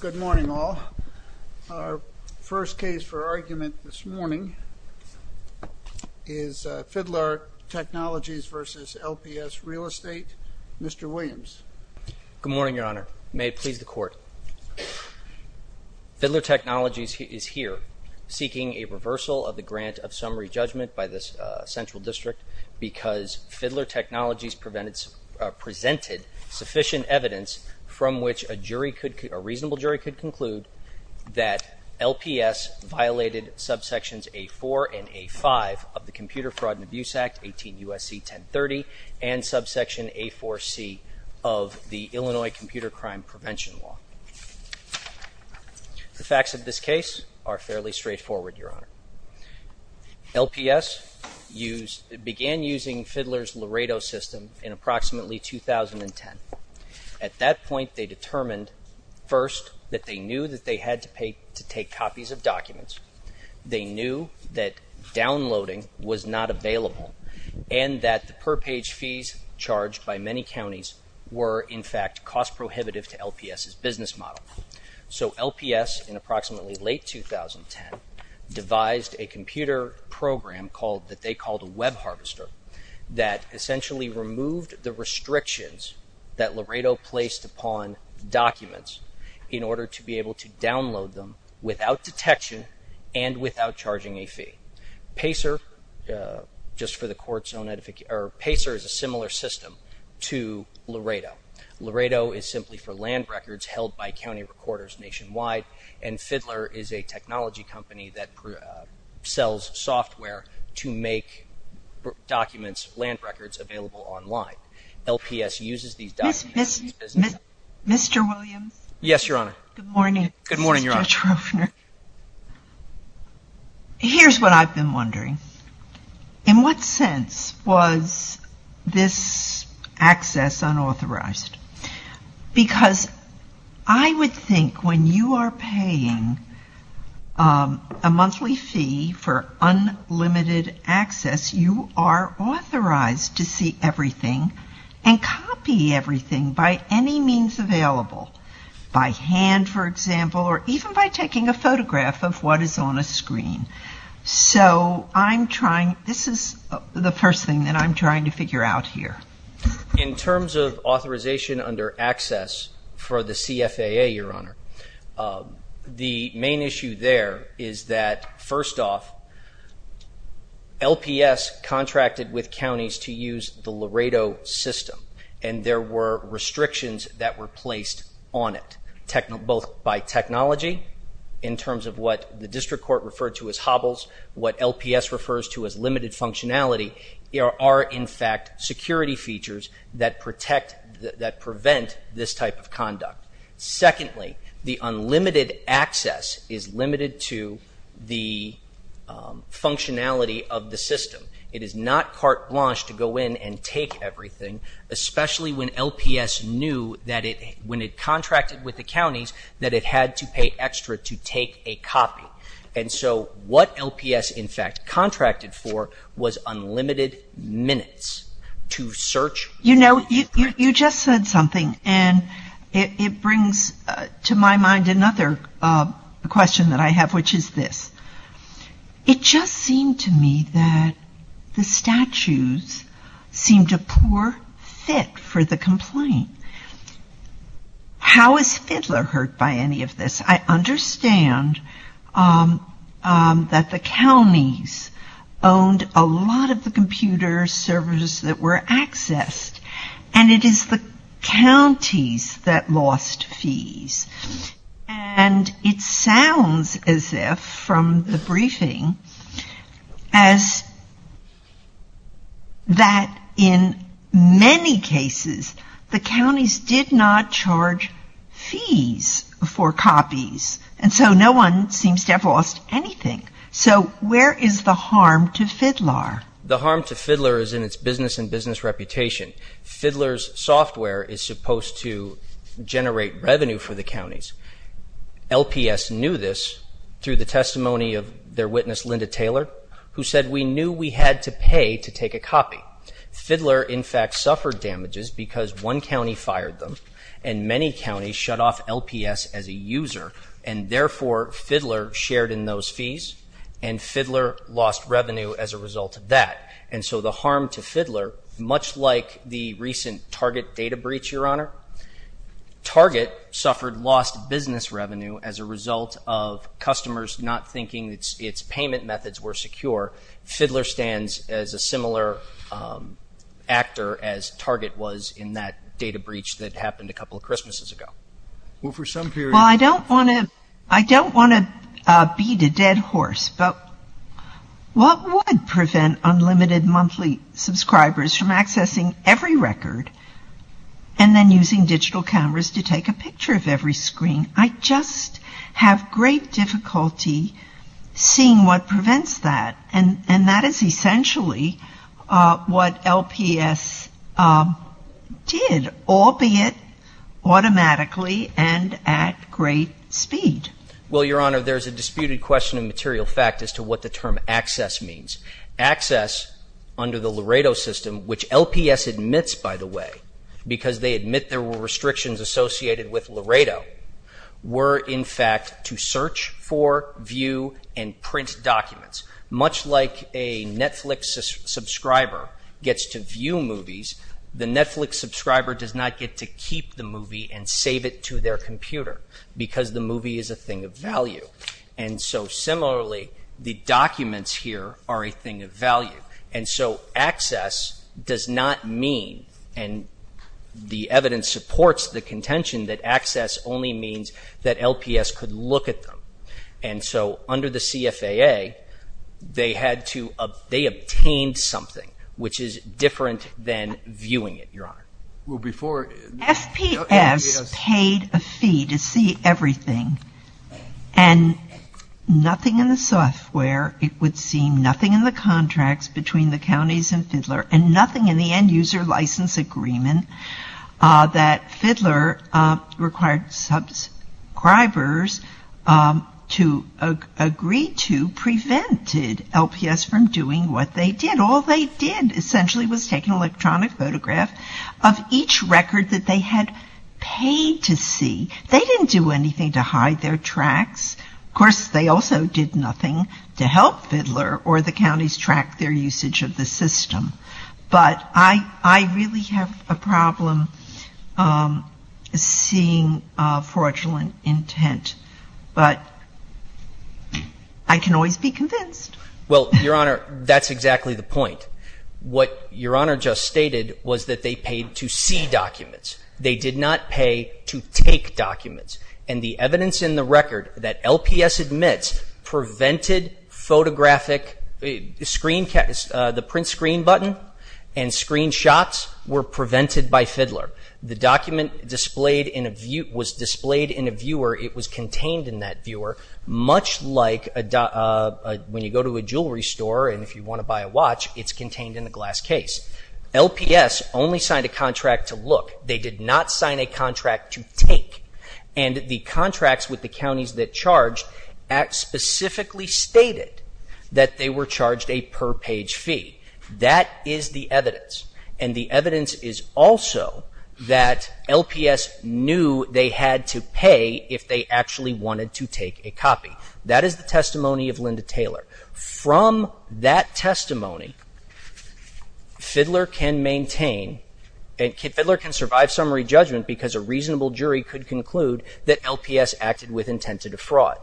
Good morning all. Our first case for argument this morning is Fidlar Technologies v. LPS Real Estate. Mr. Williams. Good morning, Your Honor. May it please the Court. Fidlar Technologies is here seeking a reversal of the grant of summary judgment by the Central District because Fidlar Technologies presented sufficient evidence from which a reasonable jury could conclude that LPS violated subsections A-4 and A-5 of the Computer Fraud and Abuse Act, 18 U.S.C. 1030, and subsection A-4c of the Illinois Computer Crime Prevention Law. The facts of this case are fairly straightforward, Your Honor. LPS began using Fidlar's Laredo system in approximately 2010. At that point, they determined, first, that they knew that they had to take copies of documents, they knew that downloading was not available, and that the per-page fees charged by many counties were, in fact, cost prohibitive to LPS's business model. So LPS, in approximately late 2010, devised a computer program that they called a web harvester that essentially removed the restrictions that Laredo placed upon documents in order to be able to download them without detection and without charging a fee. PACER, just for the Court's own edification, PACER is a similar system to Laredo. Laredo is simply for land records held by county recorders nationwide, and Fidlar is a technology company that sells software to make documents, land records, available online. LPS uses these documents... Mr. Williams? Yes, Your Honor. Good morning. Good morning, Your Honor. Here's what I've been wondering. In what sense was this access unauthorized? Because I would think when you are paying a monthly fee for unlimited access, you are authorized to see everything and copy everything by any means available. By hand, for example, or even by taking a photograph of what is on a screen. So I'm trying... this is the first thing that I'm trying to figure out here. In terms of authorization under access for the CFAA, Your Honor, the main issue there is that, first off, LPS contracted with counties to use the Laredo system, and there were restrictions that were placed on it, both by technology, in terms of what the district court referred to as hobbles, what LPS refers to as limited functionality. There are, in fact, security features that prevent this type of conduct. Secondly, the unlimited access is limited to the functionality of the system. It is not carte blanche to go in and take everything, especially when LPS knew that when it contracted with the counties, that it had to pay extra to take a copy. And so what LPS, in fact, contracted for was unlimited minutes to search. You know, you just said something, and it brings to my mind another question that I have, which is this. It just seemed to me that the statues seemed a poor fit for the complaint. How is Fidler hurt by any of this? I understand that the counties owned a lot of the computer servers that were accessed, and it is the counties that lost fees. And it sounds as if, from the briefing, as that in many cases the counties did not charge fees for copies, and so no one seems to have lost anything. So where is the harm to Fidler? The harm to Fidler is in its business and business reputation. Fidler's software is supposed to generate revenue for the counties. LPS knew this through the testimony of their witness, Linda Taylor, who said we knew we had to pay to take a copy. Fidler, in fact, suffered damages because one county fired them, and many counties shut off LPS as a user, and therefore Fidler shared in those fees, and Fidler lost revenue as a result of that. And so the harm to Fidler, much like the recent Target data breach, Your Honor, Target suffered lost business revenue as a result of customers not thinking its payment methods were secure. Fidler stands as a similar actor as Target was in that data breach that happened a couple of Christmases ago. Well, for some period of time. Well, I don't want to beat a dead horse, but what would prevent unlimited monthly subscribers from accessing every record and then using digital cameras to take a picture of every screen? I just have great difficulty seeing what prevents that, and that is essentially what LPS did, albeit automatically and at great speed. Well, Your Honor, there's a disputed question in material fact as to what the term access means. Access under the Laredo system, which LPS admits, by the way, because they admit there were restrictions associated with Laredo, were in fact to search for, view, and print documents. Much like a Netflix subscriber gets to view movies, the Netflix subscriber does not get to keep the movie and save it to their computer because the movie is a thing of value. And so similarly, the documents here are a thing of value. And so access does not mean, and the evidence supports the contention, that access only means that LPS could look at them. And so under the CFAA, they obtained something, which is different than viewing it, Your Honor. FPS paid a fee to see everything, and nothing in the software, it would seem, nothing in the contracts between the counties and Fiddler, and nothing in the end user license agreement that Fiddler required subscribers to agree to prevented LPS from doing what they did. But all they did, essentially, was take an electronic photograph of each record that they had paid to see. They didn't do anything to hide their tracks. Of course, they also did nothing to help Fiddler or the counties track their usage of the system. But I really have a problem seeing fraudulent intent. But I can always be convinced. Well, Your Honor, that's exactly the point. What Your Honor just stated was that they paid to see documents. They did not pay to take documents. And the evidence in the record that LPS admits prevented photographic, the print screen button and screenshots were prevented by Fiddler. The document was displayed in a viewer, it was contained in that viewer, much like when you go to a jewelry store and if you want to buy a watch, it's contained in a glass case. LPS only signed a contract to look. They did not sign a contract to take. And the contracts with the counties that charged specifically stated that they were charged a per-page fee. That is the evidence. And the evidence is also that LPS knew they had to pay if they actually wanted to take a copy. That is the testimony of Linda Taylor. From that testimony, Fiddler can maintain, Fiddler can survive summary judgment because a reasonable jury could conclude that LPS acted with intent to defraud.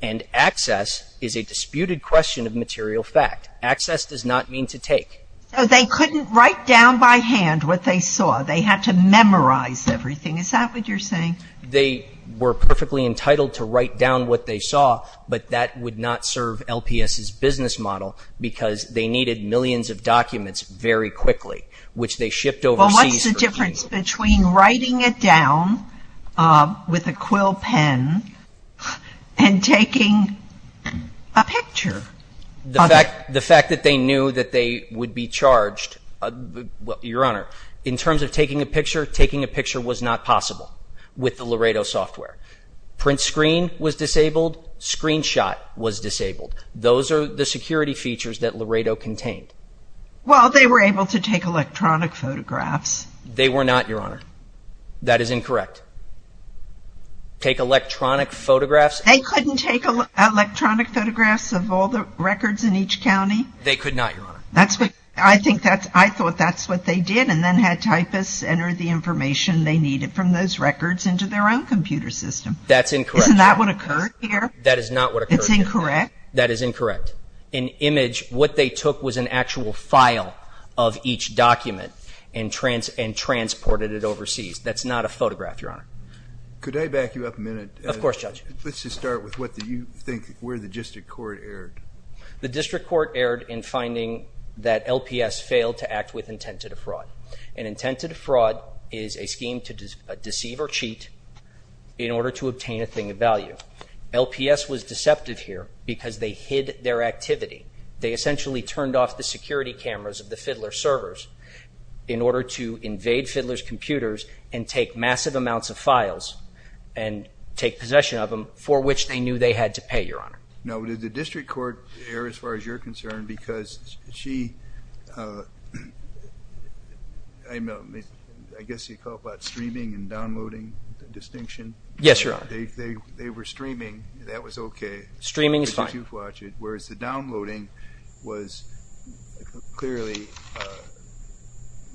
And access is a disputed question of material fact. Access does not mean to take. They couldn't write down by hand what they saw. They had to memorize everything. Is that what you're saying? They were perfectly entitled to write down what they saw, but that would not serve LPS's business model because they needed millions of documents very quickly, which they shipped overseas. Well, what's the difference between writing it down with a quill pen and taking a picture? The fact that they knew that they would be charged, Your Honor, in terms of taking a picture, taking a picture was not possible with the Laredo software. Print screen was disabled. Screenshot was disabled. Those are the security features that Laredo contained. Well, they were able to take electronic photographs. They were not, Your Honor. That is incorrect. Take electronic photographs. They couldn't take electronic photographs of all the records in each county? They could not, Your Honor. I thought that's what they did and then had typists enter the information they needed from those records into their own computer system. That's incorrect. Isn't that what occurred here? That is not what occurred here. It's incorrect? That is incorrect. In image, what they took was an actual file of each document and transported it overseas. Could I back you up a minute? Of course, Judge. Let's just start with what you think where the district court erred. The district court erred in finding that LPS failed to act with intent to defraud. An intent to defraud is a scheme to deceive or cheat in order to obtain a thing of value. LPS was deceptive here because they hid their activity. They essentially turned off the security cameras of the Fiddler servers in order to invade Fiddler's computers and take massive amounts of files and take possession of them for which they knew they had to pay, Your Honor. Now, did the district court err as far as you're concerned because she, I guess you call it streaming and downloading distinction? Yes, Your Honor. They were streaming. That was okay. Streaming is fine. Whereas the downloading was clearly,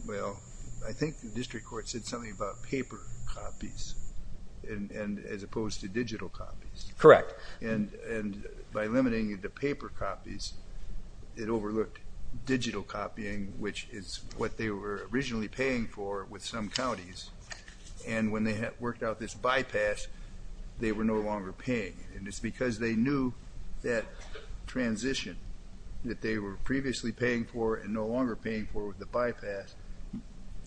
well, I think the district court said something about paper copies as opposed to digital copies. Correct. And by limiting it to paper copies, it overlooked digital copying which is what they were originally paying for with some counties. And when they worked out this bypass, they were no longer paying. And it's because they knew that transition that they were previously paying for and no longer paying for with the bypass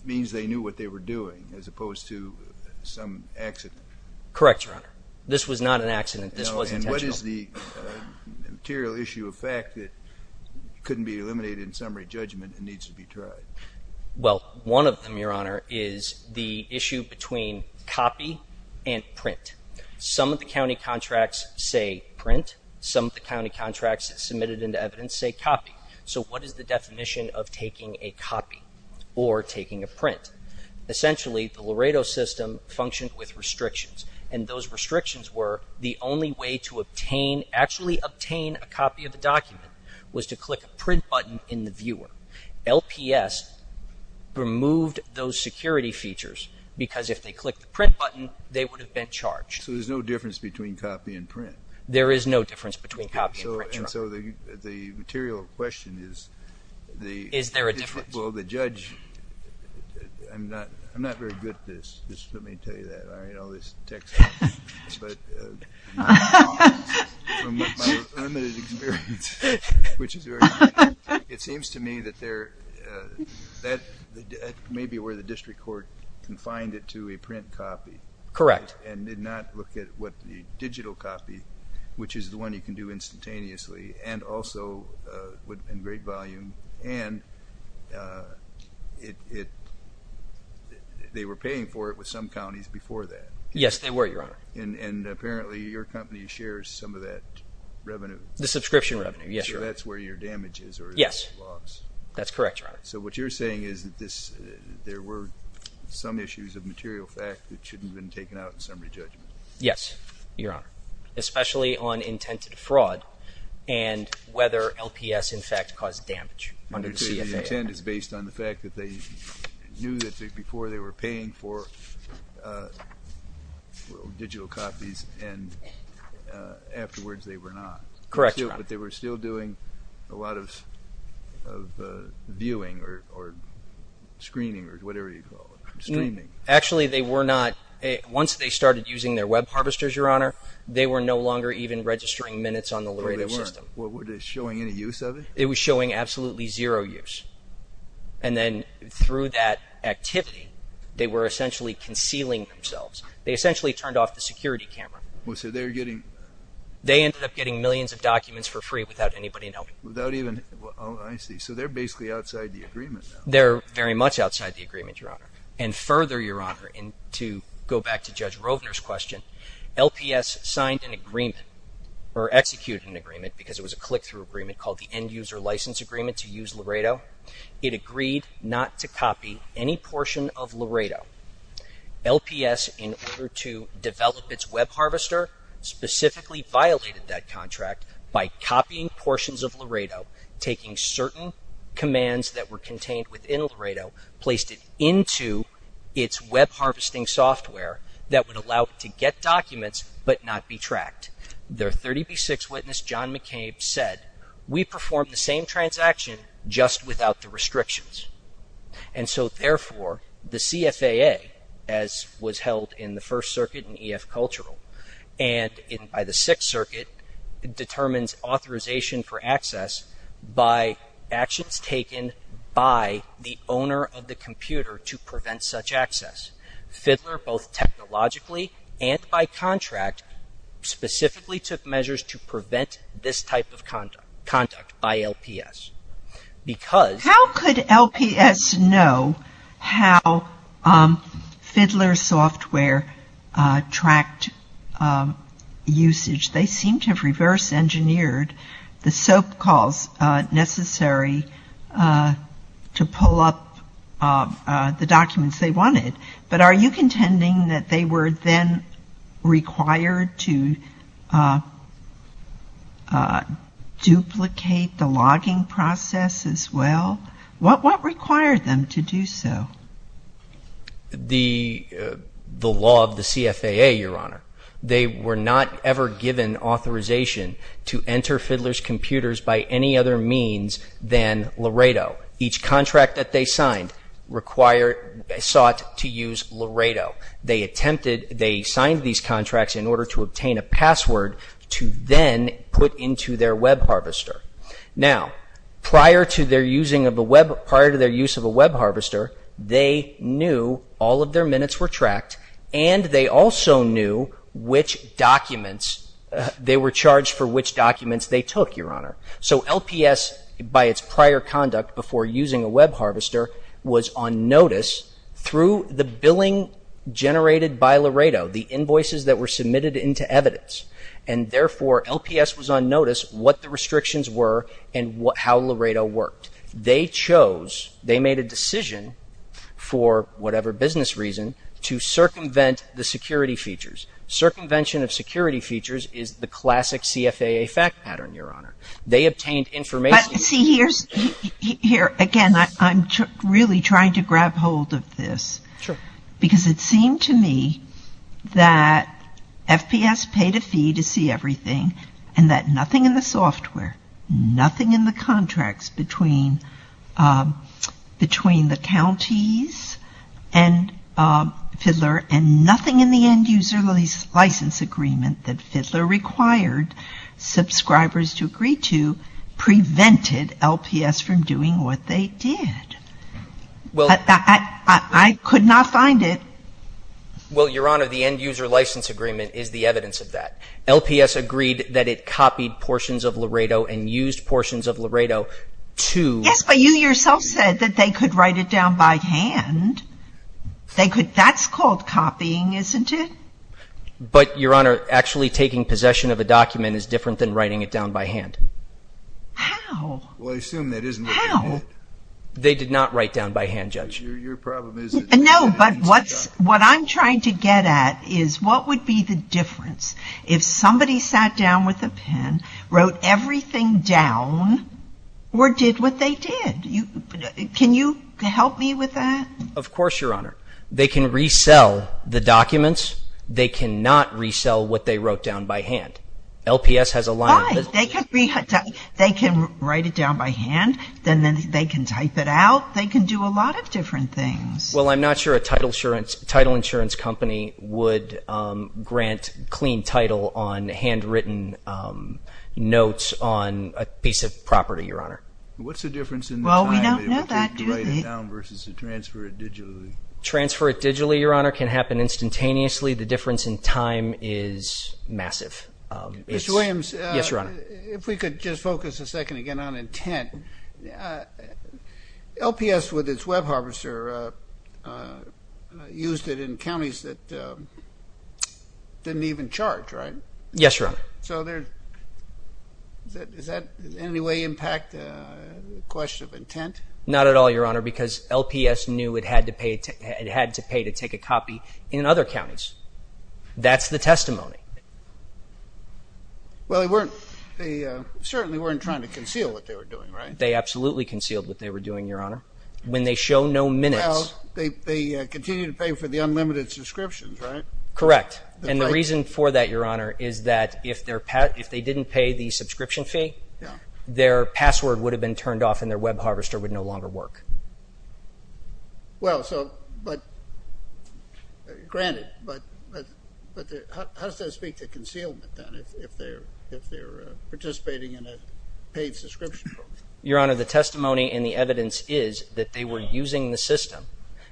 means they knew what they were doing as opposed to some accident. Correct, Your Honor. This was not an accident. This was intentional. And what is the material issue of fact that couldn't be eliminated in summary judgment and needs to be tried? Well, one of them, Your Honor, is the issue between copy and print. Some of the county contracts say print. Some of the county contracts submitted into evidence say copy. So what is the definition of taking a copy or taking a print? Essentially, the Laredo system functioned with restrictions, and those restrictions were the only way to actually obtain a copy of the document was to click a print button in the viewer. LPS removed those security features because if they clicked the print button, they would have been charged. So there's no difference between copy and print? There is no difference between copy and print, Your Honor. So the material question is the judge – Is there a difference? I'm not very good at this. Just let me tell you that. I read all this text. But from my limited experience, which is very good, it seems to me that that may be where the district court confined it to, a print copy. Correct. And did not look at what the digital copy, which is the one you can do instantaneously, and also in great volume, and they were paying for it with some counties before that. Yes, they were, Your Honor. And apparently your company shares some of that revenue. The subscription revenue, yes, Your Honor. So that's where your damage is or your loss. Yes, that's correct, Your Honor. So what you're saying is that there were some issues of material fact that shouldn't have been taken out in summary judgment. Yes, Your Honor, especially on intent to defraud and whether LPS in fact caused damage under the CFA Act. So the intent is based on the fact that they knew that before they were paying for digital copies and afterwards they were not. Correct, Your Honor. But they were still doing a lot of viewing or screening or whatever you call it, streaming. Actually, they were not. Once they started using their web harvesters, Your Honor, they were no longer even registering minutes on the Laredo system. They weren't. Were they showing any use of it? It was showing absolutely zero use. And then through that activity, they were essentially concealing themselves. They essentially turned off the security camera. So they're getting... They ended up getting millions of documents for free without anybody knowing. Without even... Oh, I see. So they're basically outside the agreement now. They're very much outside the agreement, Your Honor. And further, Your Honor, and to go back to Judge Rovner's question, LPS signed an agreement or executed an agreement because it was a click-through agreement called the End User License Agreement to use Laredo. It agreed not to copy any portion of Laredo. LPS, in order to develop its web harvester, specifically violated that contract by copying portions of Laredo, taking certain commands that were contained within Laredo, placed it into its web harvesting software that would allow it to get documents but not be tracked. Their 30B6 witness, John McCabe, said, we performed the same transaction just without the restrictions. And so, therefore, the CFAA, as was held in the First Circuit and EF Cultural, and by the Sixth Circuit, determines authorization for access by actions taken by the owner of the computer to prevent such access. Fiddler, both technologically and by contract, specifically took measures to prevent this type of conduct by LPS. Because... How could LPS know how Fiddler's software tracked usage? They seem to have reverse-engineered the SOAP calls necessary to pull up the documents they wanted. But are you contending that they were then required to duplicate the logging process as well? What required them to do so? The law of the CFAA, Your Honor. They were not ever given authorization to enter Fiddler's computers by any other means than Laredo. Each contract that they signed sought to use Laredo. They signed these contracts in order to obtain a password to then put into their web harvester. Now, prior to their use of a web harvester, they knew all of their minutes were tracked and they also knew which documents they were charged for, which documents they took, Your Honor. So LPS, by its prior conduct before using a web harvester, was on notice through the billing generated by Laredo, the invoices that were submitted into evidence. And therefore, LPS was on notice what the restrictions were and how Laredo worked. They chose, they made a decision, for whatever business reason, to circumvent the security features. Circumvention of security features is the classic CFAA fact pattern, Your Honor. They obtained information... But see, here again, I'm really trying to grab hold of this. Sure. Because it seemed to me that FPS paid a fee to see everything and that nothing in the software, nothing in the contracts between the counties and Fidler and nothing in the end-user license agreement that Fidler required subscribers to agree to prevented LPS from doing what they did. I could not find it. Well, Your Honor, the end-user license agreement is the evidence of that. LPS agreed that it copied portions of Laredo and used portions of Laredo to... Yes, but you yourself said that they could write it down by hand. That's called copying, isn't it? But, Your Honor, actually taking possession of a document is different than writing it down by hand. How? Well, I assume that isn't... How? They did not write down by hand, Judge. Your problem is... No, but what I'm trying to get at is what would be the difference if somebody sat down with a pen, wrote everything down or did what they did? Can you help me with that? Of course, Your Honor. They can resell the documents. They cannot resell what they wrote down by hand. LPS has a line... Fine. They can write it down by hand. Then they can type it out. They can do a lot of different things. Well, I'm not sure a title insurance company would grant clean title on handwritten notes on a piece of property, Your Honor. What's the difference in the time... Well, we don't know that, do we? ...to write it down versus to transfer it digitally? Transfer it digitally, Your Honor, can happen instantaneously. The difference in time is massive. Mr. Williams... Yes, Your Honor. ...if we could just focus a second again on intent. LPS, with its web harvester, used it in counties that didn't even charge, right? Yes, Your Honor. So does that in any way impact the question of intent? Not at all, Your Honor, because LPS knew it had to pay to take a copy in other counties. That's the testimony. Well, they certainly weren't trying to conceal what they were doing, right? They absolutely concealed what they were doing, Your Honor. When they show no minutes... Well, they continue to pay for the unlimited subscriptions, right? Correct. And the reason for that, Your Honor, is that if they didn't pay the subscription fee, their password would have been turned off and their web harvester would no longer work. Well, so, but, granted, but how does that speak to concealment, then, if they're participating in a paid subscription program? Your Honor, the testimony and the evidence is that they were using the system.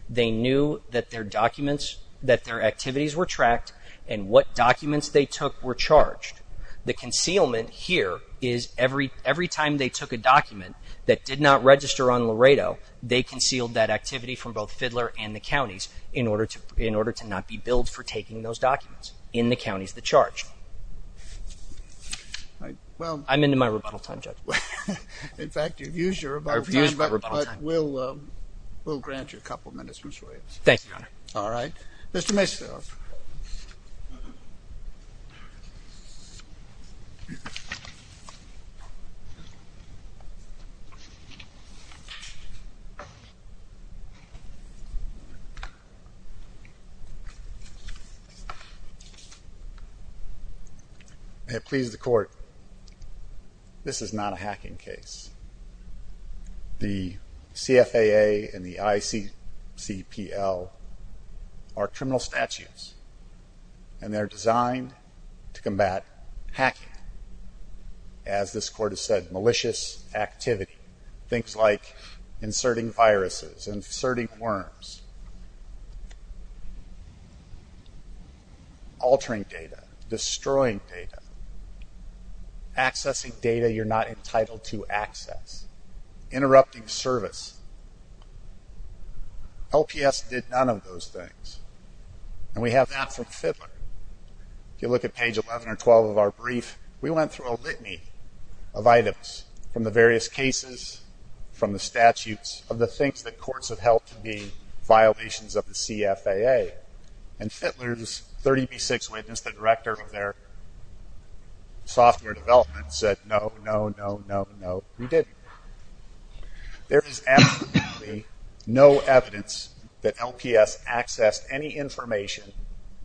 They knew that their documents, that their activities were tracked, and what documents they took were charged. The concealment here is every time they took a document that did not register on Laredo, they concealed that activity from both Fidler and the counties in order to not be billed for taking those documents in the counties that charged. I'm into my rebuttal time, Judge. In fact, you've used your rebuttal time, but we'll grant you a couple minutes, Mr. Williams. Thank you, Your Honor. All right. Mr. Macefield. I have pleased the court. This is not a hacking case. The CFAA and the ICCPL are criminal statutes, and they're designed to combat hacking. As this court has said, malicious activity. Things like inserting viruses, inserting worms, altering data, destroying data, accessing data you're not entitled to access, interrupting service. LPS did none of those things. And we have that from Fidler. If you look at page 11 or 12 of our brief, we went through a litany of items from the various cases, from the statutes, of the things that courts have held to be violations of the CFAA. And Fidler's 30B6 witness, the director of their software development, said, no, no, no, no, no, we didn't. There is absolutely no evidence that LPS accessed any information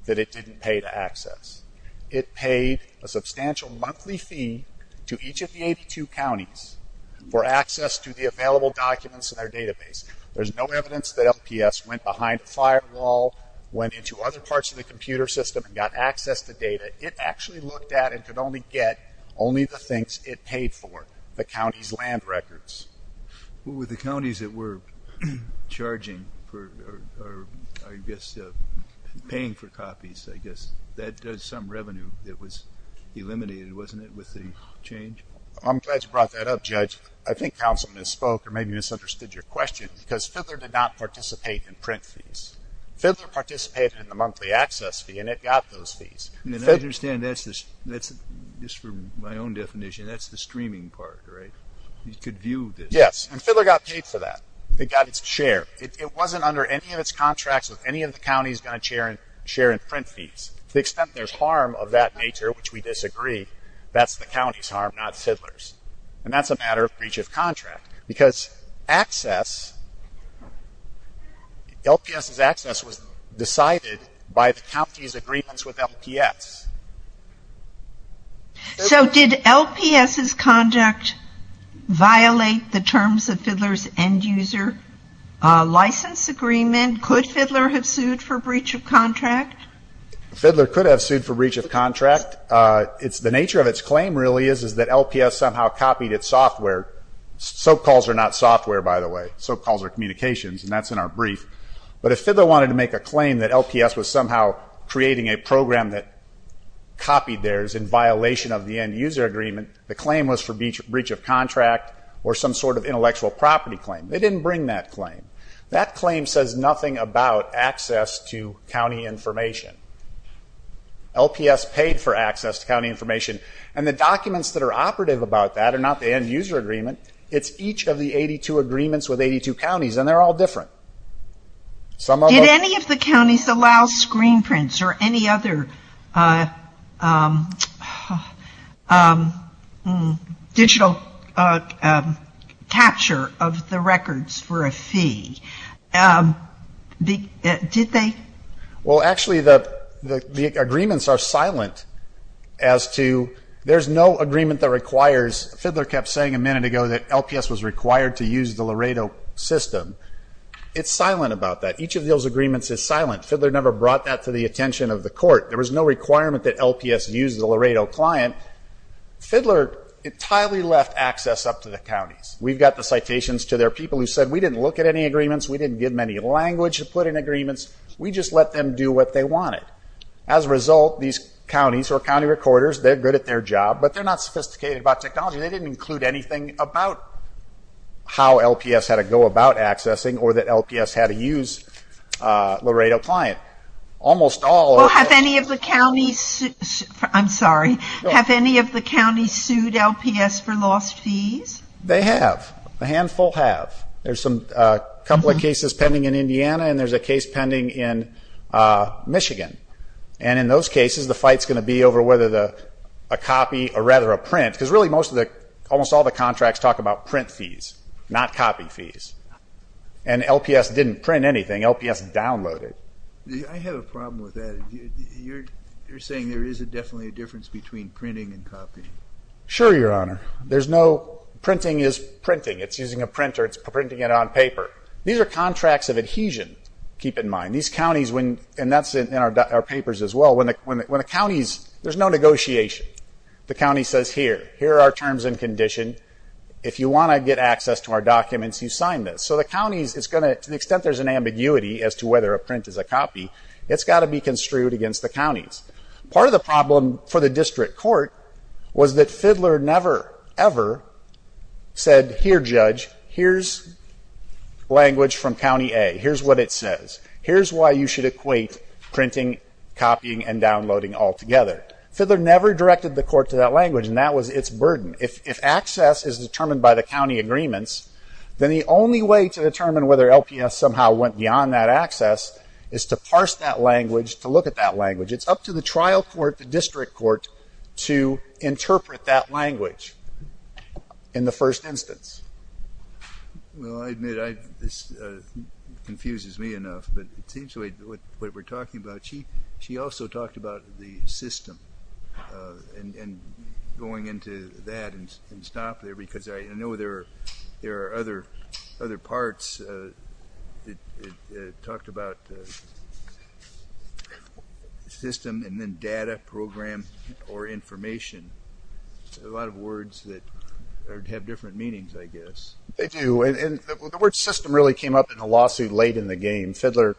that it didn't pay to access. It paid a substantial monthly fee to each of the 82 counties for access to the available documents in their database. There's no evidence that LPS went behind a firewall, went into other parts of the computer system, and got access to data. It actually looked at and could only get only the things it paid for, the county's land records. Well, with the counties that were charging for, I guess, paying for copies, I guess, that does some revenue that was eliminated, wasn't it, with the change? I'm glad you brought that up, Judge. I think counsel misspoke or maybe misunderstood your question, because Fidler did not participate in print fees. Fidler participated in the monthly access fee, and it got those fees. I understand that's, just for my own definition, that's the streaming part, right? You could view this. Yes, and Fidler got paid for that. It got its share. It wasn't under any of its contracts with any of the counties going to share in print fees. To the extent there's harm of that nature, which we disagree, that's the county's harm, not Fidler's. And that's a matter of breach of contract, because access, LPS's access was decided by the county's agreements with LPS. So did LPS's conduct violate the terms of Fidler's end user license agreement? Could Fidler have sued for breach of contract? Fidler could have sued for breach of contract. The nature of its claim, really, is that LPS somehow copied its software. Soap calls are not software, by the way. Soap calls are communications, and that's in our brief. But if Fidler wanted to make a claim that LPS was somehow creating a program that copied theirs in violation of the end user agreement, the claim was for breach of contract or some sort of intellectual property claim. They didn't bring that claim. That claim says nothing about access to county information. LPS paid for access to county information. And the documents that are operative about that are not the end user agreement. It's each of the 82 agreements with 82 counties, and they're all different. Did any of the counties allow screen prints or any other digital capture of the records for a fee? Did they? Well, actually, the agreements are silent as to there's no agreement that requires. Fidler kept saying a minute ago that LPS was required to use the Laredo system. It's silent about that. Each of those agreements is silent. Fidler never brought that to the attention of the court. There was no requirement that LPS use the Laredo client. Fidler entirely left access up to the counties. We've got the citations to their people who said we didn't look at any agreements. We didn't give them any language to put in agreements. We just let them do what they wanted. As a result, these counties or county recorders, they're good at their job, but they're not sophisticated about technology. They didn't include anything about how LPS had a go about accessing or that LPS had to use Laredo client. Almost all of them. I'm sorry. Have any of the counties sued LPS for lost fees? They have. A handful have. There's a couple of cases pending in Indiana, and there's a case pending in Michigan. And in those cases, the fight's going to be over whether a copy or rather a print, because really almost all the contracts talk about print fees, not copy fees. And LPS didn't print anything. LPS downloaded. I have a problem with that. You're saying there is definitely a difference between printing and copying. Sure, Your Honor. Printing is printing. It's using a printer. It's printing it on paper. These are contracts of adhesion. Keep in mind, these counties, and that's in our papers as well, when the counties, there's no negotiation. The county says here, here are our terms and condition. If you want to get access to our documents, you sign this. So the counties, to the extent there's an ambiguity as to whether a print is a copy, it's got to be construed against the counties. Part of the problem for the district court was that Fidler never ever said, here, Judge, here's language from County A. Here's what it says. Here's why you should equate printing, copying, and downloading altogether. Fidler never directed the court to that language, and that was its burden. If access is determined by the county agreements, then the only way to determine whether LPS somehow went beyond that access is to parse that language, to look at that language. It's up to the trial court, the district court, to interpret that language in the first instance. Well, I admit this confuses me enough, but it seems like what we're talking about, she also talked about the system and going into that and stop there, because I know there are other parts that talked about system and then data, program, or information. A lot of words that have different meanings, I guess. They do, and the word system really came up in a lawsuit late in the game. Fidler,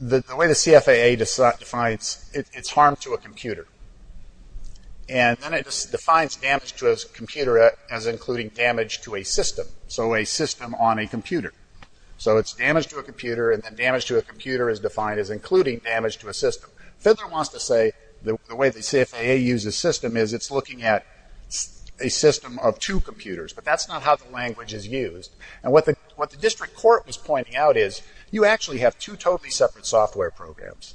the way the CFAA defines it, it's harm to a computer, and then it defines damage to a computer as including damage to a system, so a system on a computer. So it's damage to a computer, and then damage to a computer is defined as including damage to a system. Fidler wants to say the way the CFAA uses system is it's looking at a system of two computers, but that's not how the language is used. What the district court was pointing out is you actually have two totally separate software programs.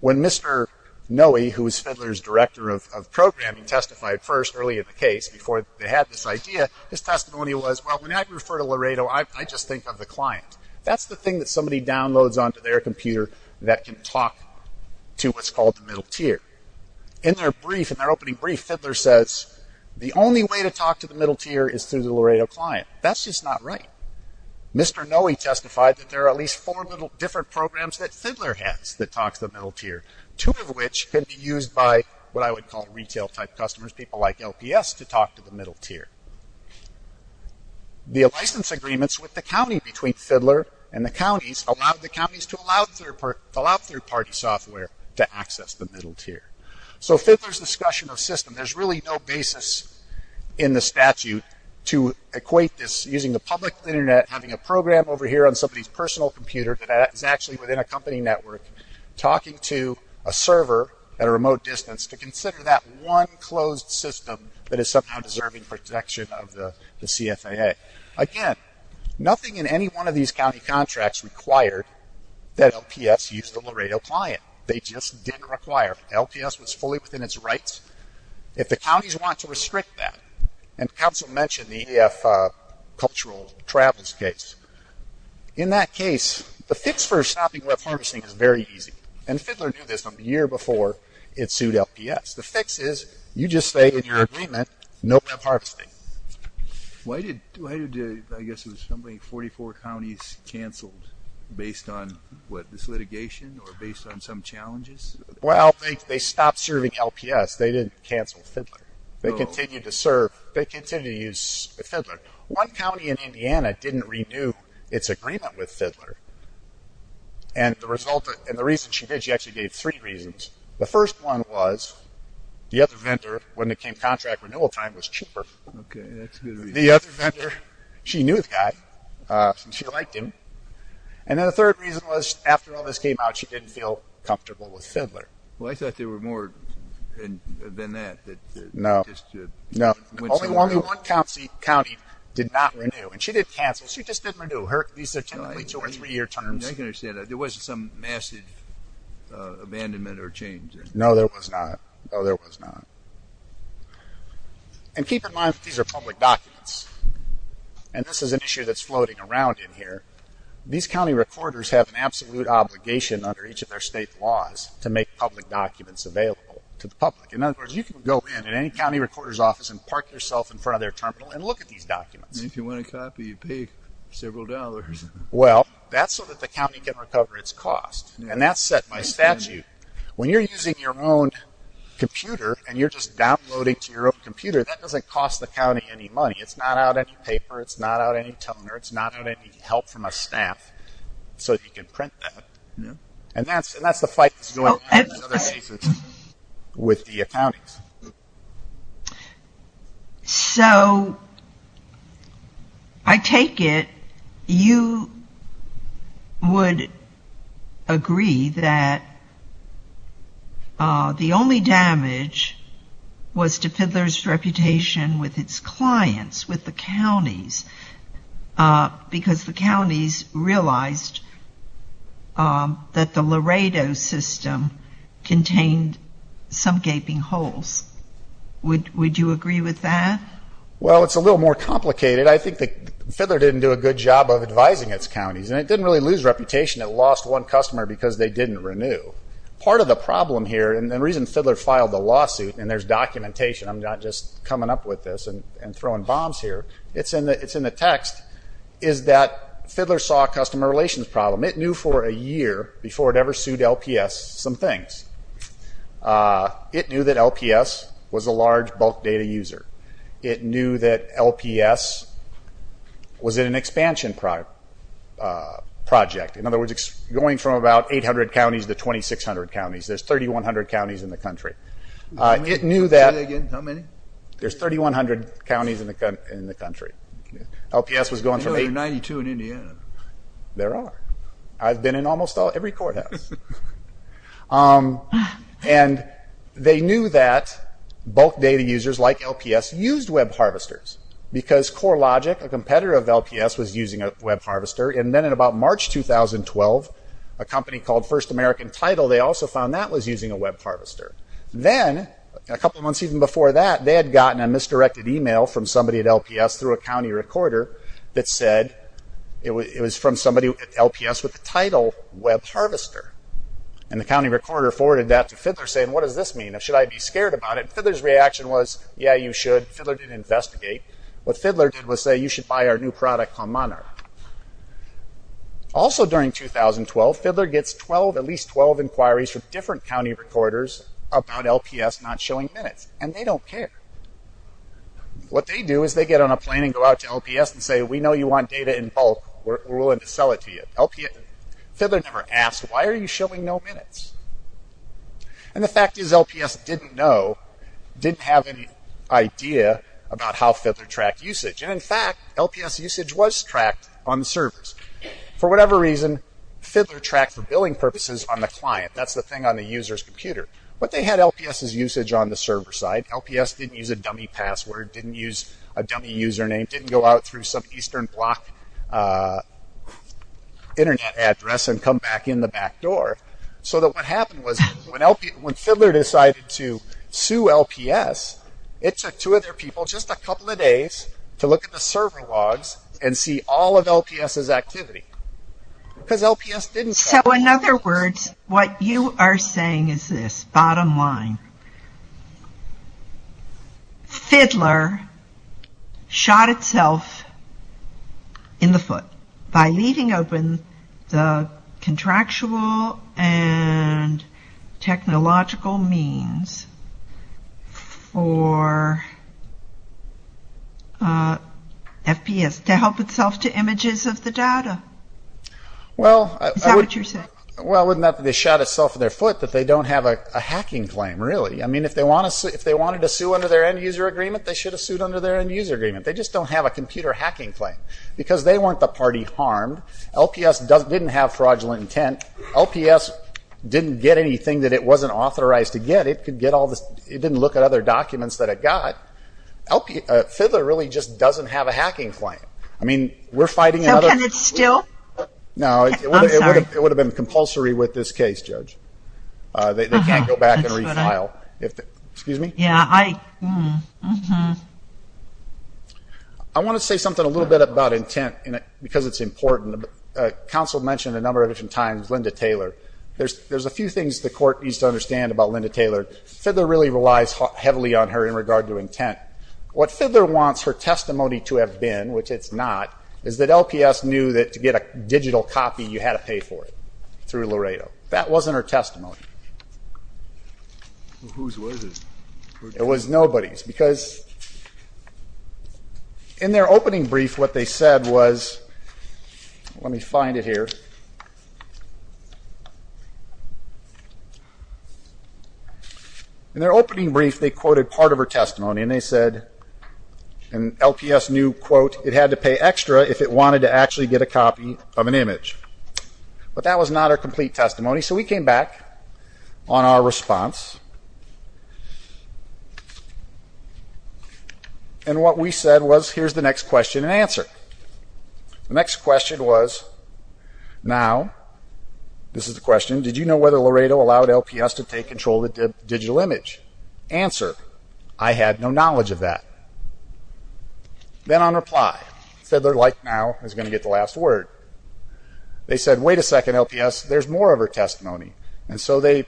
When Mr. Noe, who was Fidler's director of programming, testified first early in the case before they had this idea, his testimony was, well, when I refer to Laredo, I just think of the client. That's the thing that somebody downloads onto their computer that can talk to what's called the middle tier. In their brief, in their opening brief, Fidler says, the only way to talk to the middle tier is through the Laredo client. That's just not right. Mr. Noe testified that there are at least four different programs that Fidler has that talks to the middle tier, two of which can be used by what I would call retail-type customers, people like LPS, to talk to the middle tier. The license agreements with the county between Fidler and the counties allowed the counties to allow third-party software to access the middle tier. So Fidler's discussion of system, there's really no basis in the statute to equate this using the public internet, having a program over here on somebody's personal computer that is actually within a company network, talking to a server at a remote distance to consider that one closed system that is somehow deserving protection of the CFAA. Again, nothing in any one of these county contracts required that LPS use the Laredo client. They just didn't require. LPS was fully within its rights. If the counties want to restrict that, and counsel mentioned the EF cultural travels case, in that case, the fix for stopping web harvesting is very easy. And Fidler knew this from the year before it sued LPS. The fix is, you just say in your agreement, no web harvesting. Why did, I guess it was something like 44 counties cancelled based on what, this litigation or based on some challenges? Well, they stopped serving LPS. They didn't cancel Fidler. They continued to serve, they continued to use Fidler. One county in Indiana didn't renew its agreement with Fidler. And the reason she did, she actually gave three reasons. The first one was the other vendor, when it came contract renewal time, was cheaper. Okay, that's a good reason. The other vendor, she knew the guy. She liked him. And then the third reason was, after all this came out, she didn't feel comfortable with Fidler. Well, I thought there were more than that. No, no. Only one county did not renew. And she didn't cancel. She just didn't renew. These are typically two- or three-year terms. I can understand that. There wasn't some massive abandonment or change. No, there was not. No, there was not. And keep in mind that these are public documents. And this is an issue that's floating around in here. These county recorders have an absolute obligation under each of their state laws to make public documents available to the public. In other words, you can go in at any county recorder's office and park yourself in front of their terminal and look at these documents. And if you want a copy, you pay several dollars. Well, that's so that the county can recover its cost. And that's set by statute. When you're using your own computer and you're just downloading to your own computer, that doesn't cost the county any money. It's not out any paper. It's not out any toner. It's not out any help from a staff so that you can print that. And that's the fight that's going on in other cases with the counties. So I take it you would agree that the only damage was to Fidler's reputation with its clients, with the counties, because the counties realized that the Laredo system contained some gaping holes. Would you agree with that? Well, it's a little more complicated. I think that Fidler didn't do a good job of advising its counties. And it didn't really lose reputation. It lost one customer because they didn't renew. Part of the problem here, and the reason Fidler filed the lawsuit, and there's documentation, I'm not just coming up with this and throwing bombs here, it's in the text, is that Fidler saw a customer relations problem. It knew for a year before it ever sued LPS some things. It knew that LPS was a large bulk data user. It knew that LPS was in an expansion project, in other words, going from about 800 counties to 2,600 counties. There's 3,100 counties in the country. Say that again. How many? There's 3,100 counties in the country. LPS was going from 800- There are 92 in Indiana. There are. I've been in almost every courthouse. And they knew that bulk data users like LPS used web harvesters, because CoreLogic, a competitor of LPS, was using a web harvester. And then in about March 2012, a company called First American Title, they also found that was using a web harvester. Then, a couple of months even before that, they had gotten a misdirected email from somebody at LPS through a county recorder that said it was from somebody at LPS with the title web harvester. And the county recorder forwarded that to Fidler, saying, what does this mean? Should I be scared about it? Fidler's reaction was, yeah, you should. Fidler didn't investigate. What Fidler did was say, you should buy our new product on Monarch. Also during 2012, Fidler gets at least 12 inquiries from different county recorders about LPS not showing minutes. And they don't care. What they do is they get on a plane and go out to LPS and say, we know you want data in bulk. We're willing to sell it to you. Fidler never asked, why are you showing no minutes? And the fact is LPS didn't know, didn't have any idea about how Fidler tracked usage. And in fact, LPS usage was tracked on the servers. For whatever reason, Fidler tracked for billing purposes on the client. That's the thing on the user's computer. But they had LPS's usage on the server side. LPS didn't use a dummy password, didn't use a dummy username, didn't go out through some eastern block internet address and come back in the back door. So what happened was when Fidler decided to sue LPS, it took two of their people just a couple of days to look at the server logs and see all of LPS's activity. So in other words, what you are saying is this, bottom line. Fidler shot itself in the foot by leaving open the contractual and technological means for FPS to help itself to images of the data. Is that what you're saying? Well, wouldn't that be they shot itself in their foot that they don't have a hacking claim, really. I mean, if they wanted to sue under their end user agreement, they should have sued under their end user agreement. They just don't have a computer hacking claim. Because they weren't the party harmed. LPS didn't have fraudulent intent. LPS didn't get anything that it wasn't authorized to get. It didn't look at other documents that it got. Fidler really just doesn't have a hacking claim. So can it still? No, it would have been compulsory with this case, Judge. They can't go back and refile. Excuse me? I want to say something a little bit about intent because it's important. Counsel mentioned a number of different times Linda Taylor. There's a few things the court needs to understand about Linda Taylor. Fidler really relies heavily on her in regard to intent. What Fidler wants her testimony to have been, which it's not, is that LPS knew that to get a digital copy, you had to pay for it through Laredo. That wasn't her testimony. Whose was it? It was nobody's. Because in their opening brief, what they said was, let me find it here. In their opening brief, they quoted part of her testimony. They said LPS knew, quote, it had to pay extra if it wanted to actually get a copy of an image. But that was not her complete testimony. So we came back on our response. And what we said was, here's the next question and answer. The next question was, now, this is the question, did you know whether Laredo allowed LPS to take control of the digital image? Answer, I had no knowledge of that. Then on reply, Fidler, like now, is going to get the last word. They said, wait a second, LPS, there's more of her testimony. And so they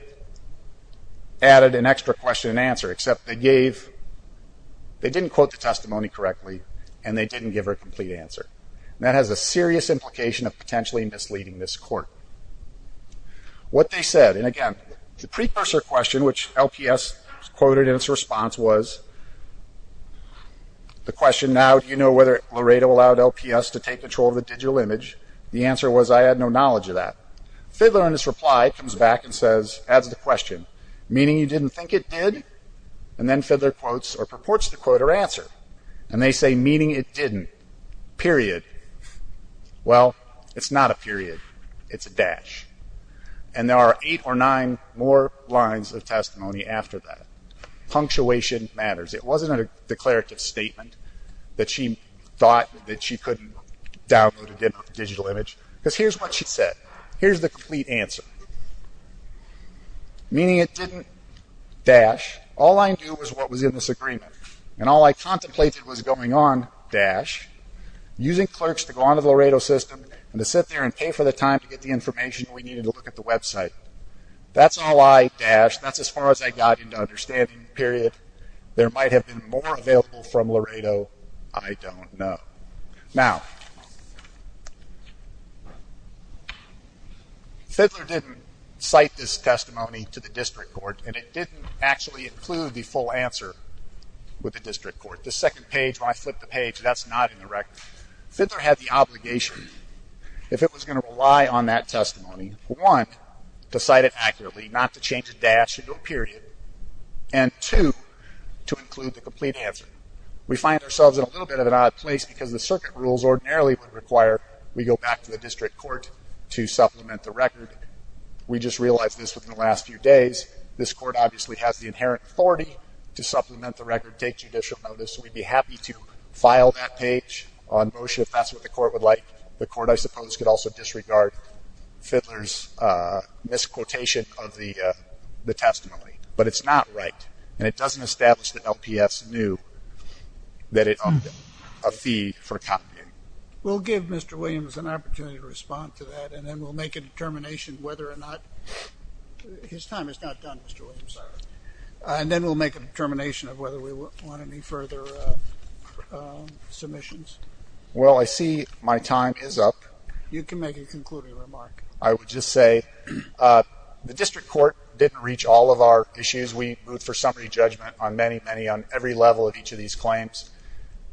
added an extra question and answer, except they gave, they didn't quote the testimony correctly, and they didn't give her a complete answer. That has a serious implication of potentially misleading this court. What they said, and again, the precursor question, which LPS quoted in its response was, the question now, do you know whether Laredo allowed LPS to take control of the digital image? The answer was, I had no knowledge of that. Fidler, in his reply, comes back and says, adds the question, meaning you didn't think it did? And then Fidler quotes or purports to quote her answer. And they say, meaning it didn't, period. Well, it's not a period. It's a dash. And there are eight or nine more lines of testimony after that. Punctuation matters. It wasn't a declarative statement that she thought that she couldn't download a digital image. Because here's what she said. Here's the complete answer. Meaning it didn't dash. All I knew was what was in this agreement. And all I contemplated was going on, dash, using clerks to go on to the Laredo system and to sit there and pay for the time to get the information we needed to look at the website. That's all I dashed. That's as far as I got into understanding, period. There might have been more available from Laredo. I don't know. Now, Fidler didn't cite this testimony to the district court. And it didn't actually include the full answer with the district court. The second page, when I flipped the page, that's not in the record. Fidler had the obligation, if it was going to rely on that testimony, one, to cite it accurately, not to change the dash into a period. And two, to include the complete answer. We find ourselves in a little bit of an odd place because the circuit rules ordinarily would require we go back to the district court to supplement the record. We just realized this within the last few days. This court obviously has the inherent authority to supplement the record, take judicial notice. We'd be happy to file that page on motion if that's what the court would like. The court, I suppose, could also disregard Fidler's misquotation of the testimony. But it's not right. And it doesn't establish that LPS knew that it owed them a fee for copying. We'll give Mr. Williams an opportunity to respond to that. And then we'll make a determination whether or not his time is not done, Mr. Williams. And then we'll make a determination of whether we want any further submissions. Well, I see my time is up. You can make a concluding remark. I would just say the district court didn't reach all of our issues. We moved for summary judgment on many, many, on every level of each of these claims.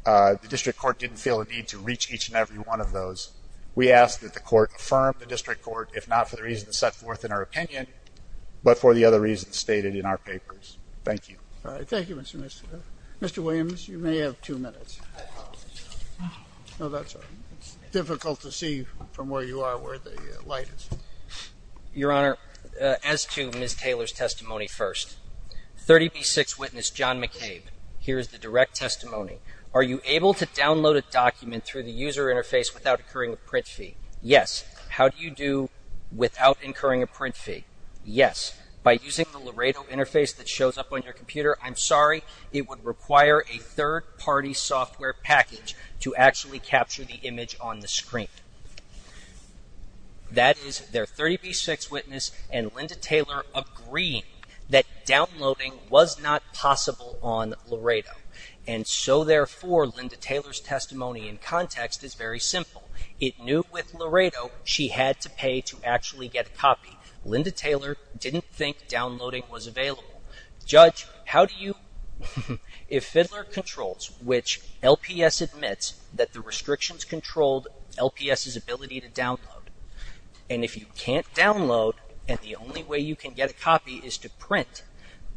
The district court didn't feel a need to reach each and every one of those. We ask that the court affirm the district court, if not for the reasons set forth in our opinion, but for the other reasons stated in our papers. Thank you. Thank you, Mr. Williams. You may have two minutes. No, that's all right. It's difficult to see from where you are where the light is. Your Honor, as to Ms. Taylor's testimony first, 30B6 witness John McCabe. Here is the direct testimony. Are you able to download a document through the user interface without incurring a print fee? Yes. How do you do without incurring a print fee? Yes. By using the Laredo interface that shows up on your computer? I'm sorry. It would require a third-party software package to actually capture the image on the screen. That is, their 30B6 witness and Linda Taylor agree that downloading was not possible on Laredo. And so, therefore, Linda Taylor's testimony in context is very simple. It knew with Laredo she had to pay to actually get a copy. Linda Taylor didn't think downloading was available. Judge, how do you... If Fiddler Controls, which LPS admits that the restrictions controlled LPS's ability to download, and if you can't download, and the only way you can get a copy is to print,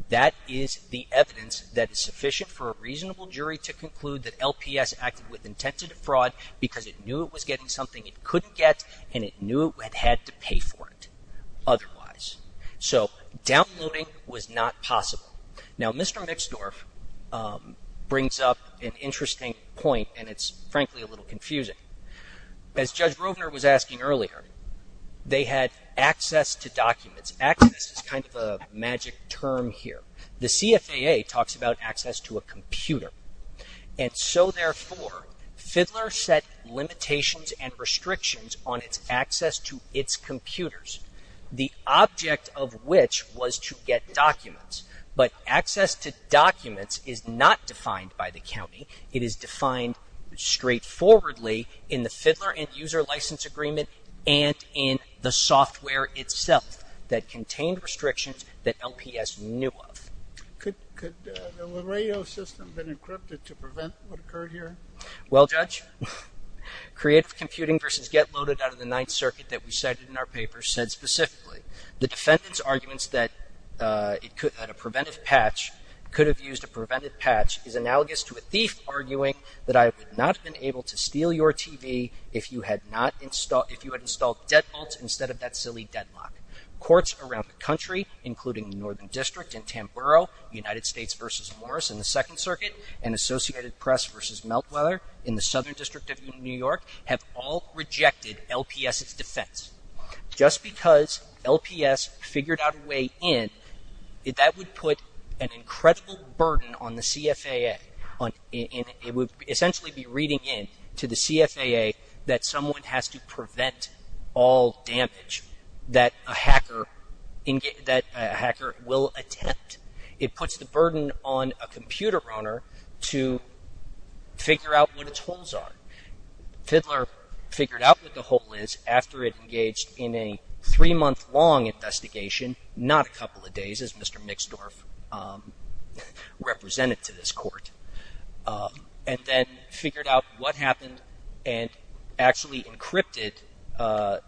that is the evidence that is sufficient for a reasonable jury to conclude that LPS acted with intent to defraud because it knew it was getting something it couldn't get and it knew it had to pay for it otherwise. So, downloading was not possible. Now, Mr. Mixdorf brings up an interesting point and it's frankly a little confusing. As Judge Rovner was asking earlier, they had access to documents. Access is kind of a magic term here. The CFAA talks about access to a computer. And so, therefore, Fiddler set limitations and restrictions on its access to its computers, the object of which was to get documents. But access to documents is not defined by the county. It is defined straightforwardly in the Fiddler and User License Agreement and in the software itself that contained restrictions that LPS knew of. Could the radio system have been encrypted to prevent what occurred here? Well, Judge, Creative Computing v. Get Loaded out of the Ninth Circuit that we cited in our paper said specifically the defendant's arguments that a preventive patch could have used a preventive patch is analogous to a thief arguing that I would not have been able to steal your TV if you had installed deadbolts instead of that silly deadlock. Courts around the country, including the Northern District in Tamboro, United States v. Morris in the Second Circuit, and Associated Press v. Meltweather in the Southern District of New York, have all rejected LPS's defense. Just because LPS figured out a way in, that would put an incredible burden on the CFAA. It would essentially be reading in to the CFAA that someone has to prevent all damage that a hacker will attempt. It puts the burden on a computer owner to figure out what its holes are. Fiddler figured out what the hole is after it engaged in a three-month-long investigation, not a couple of days, as Mr. Mixdorf represented to this court, and then figured out what happened and actually encrypted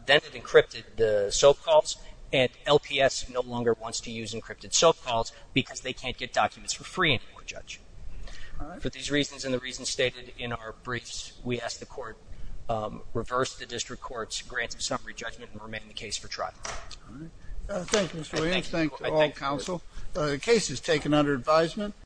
the SOAP calls, and LPS no longer wants to use encrypted SOAP calls because they can't get documents for free anymore, Judge. For these reasons and the reasons stated in our briefs, we ask the court reverse the district court's grants of summary judgment and remain in the case for trial. Thank you, Mr. Williams. Thanks to all counsel. The case is taken under advisement.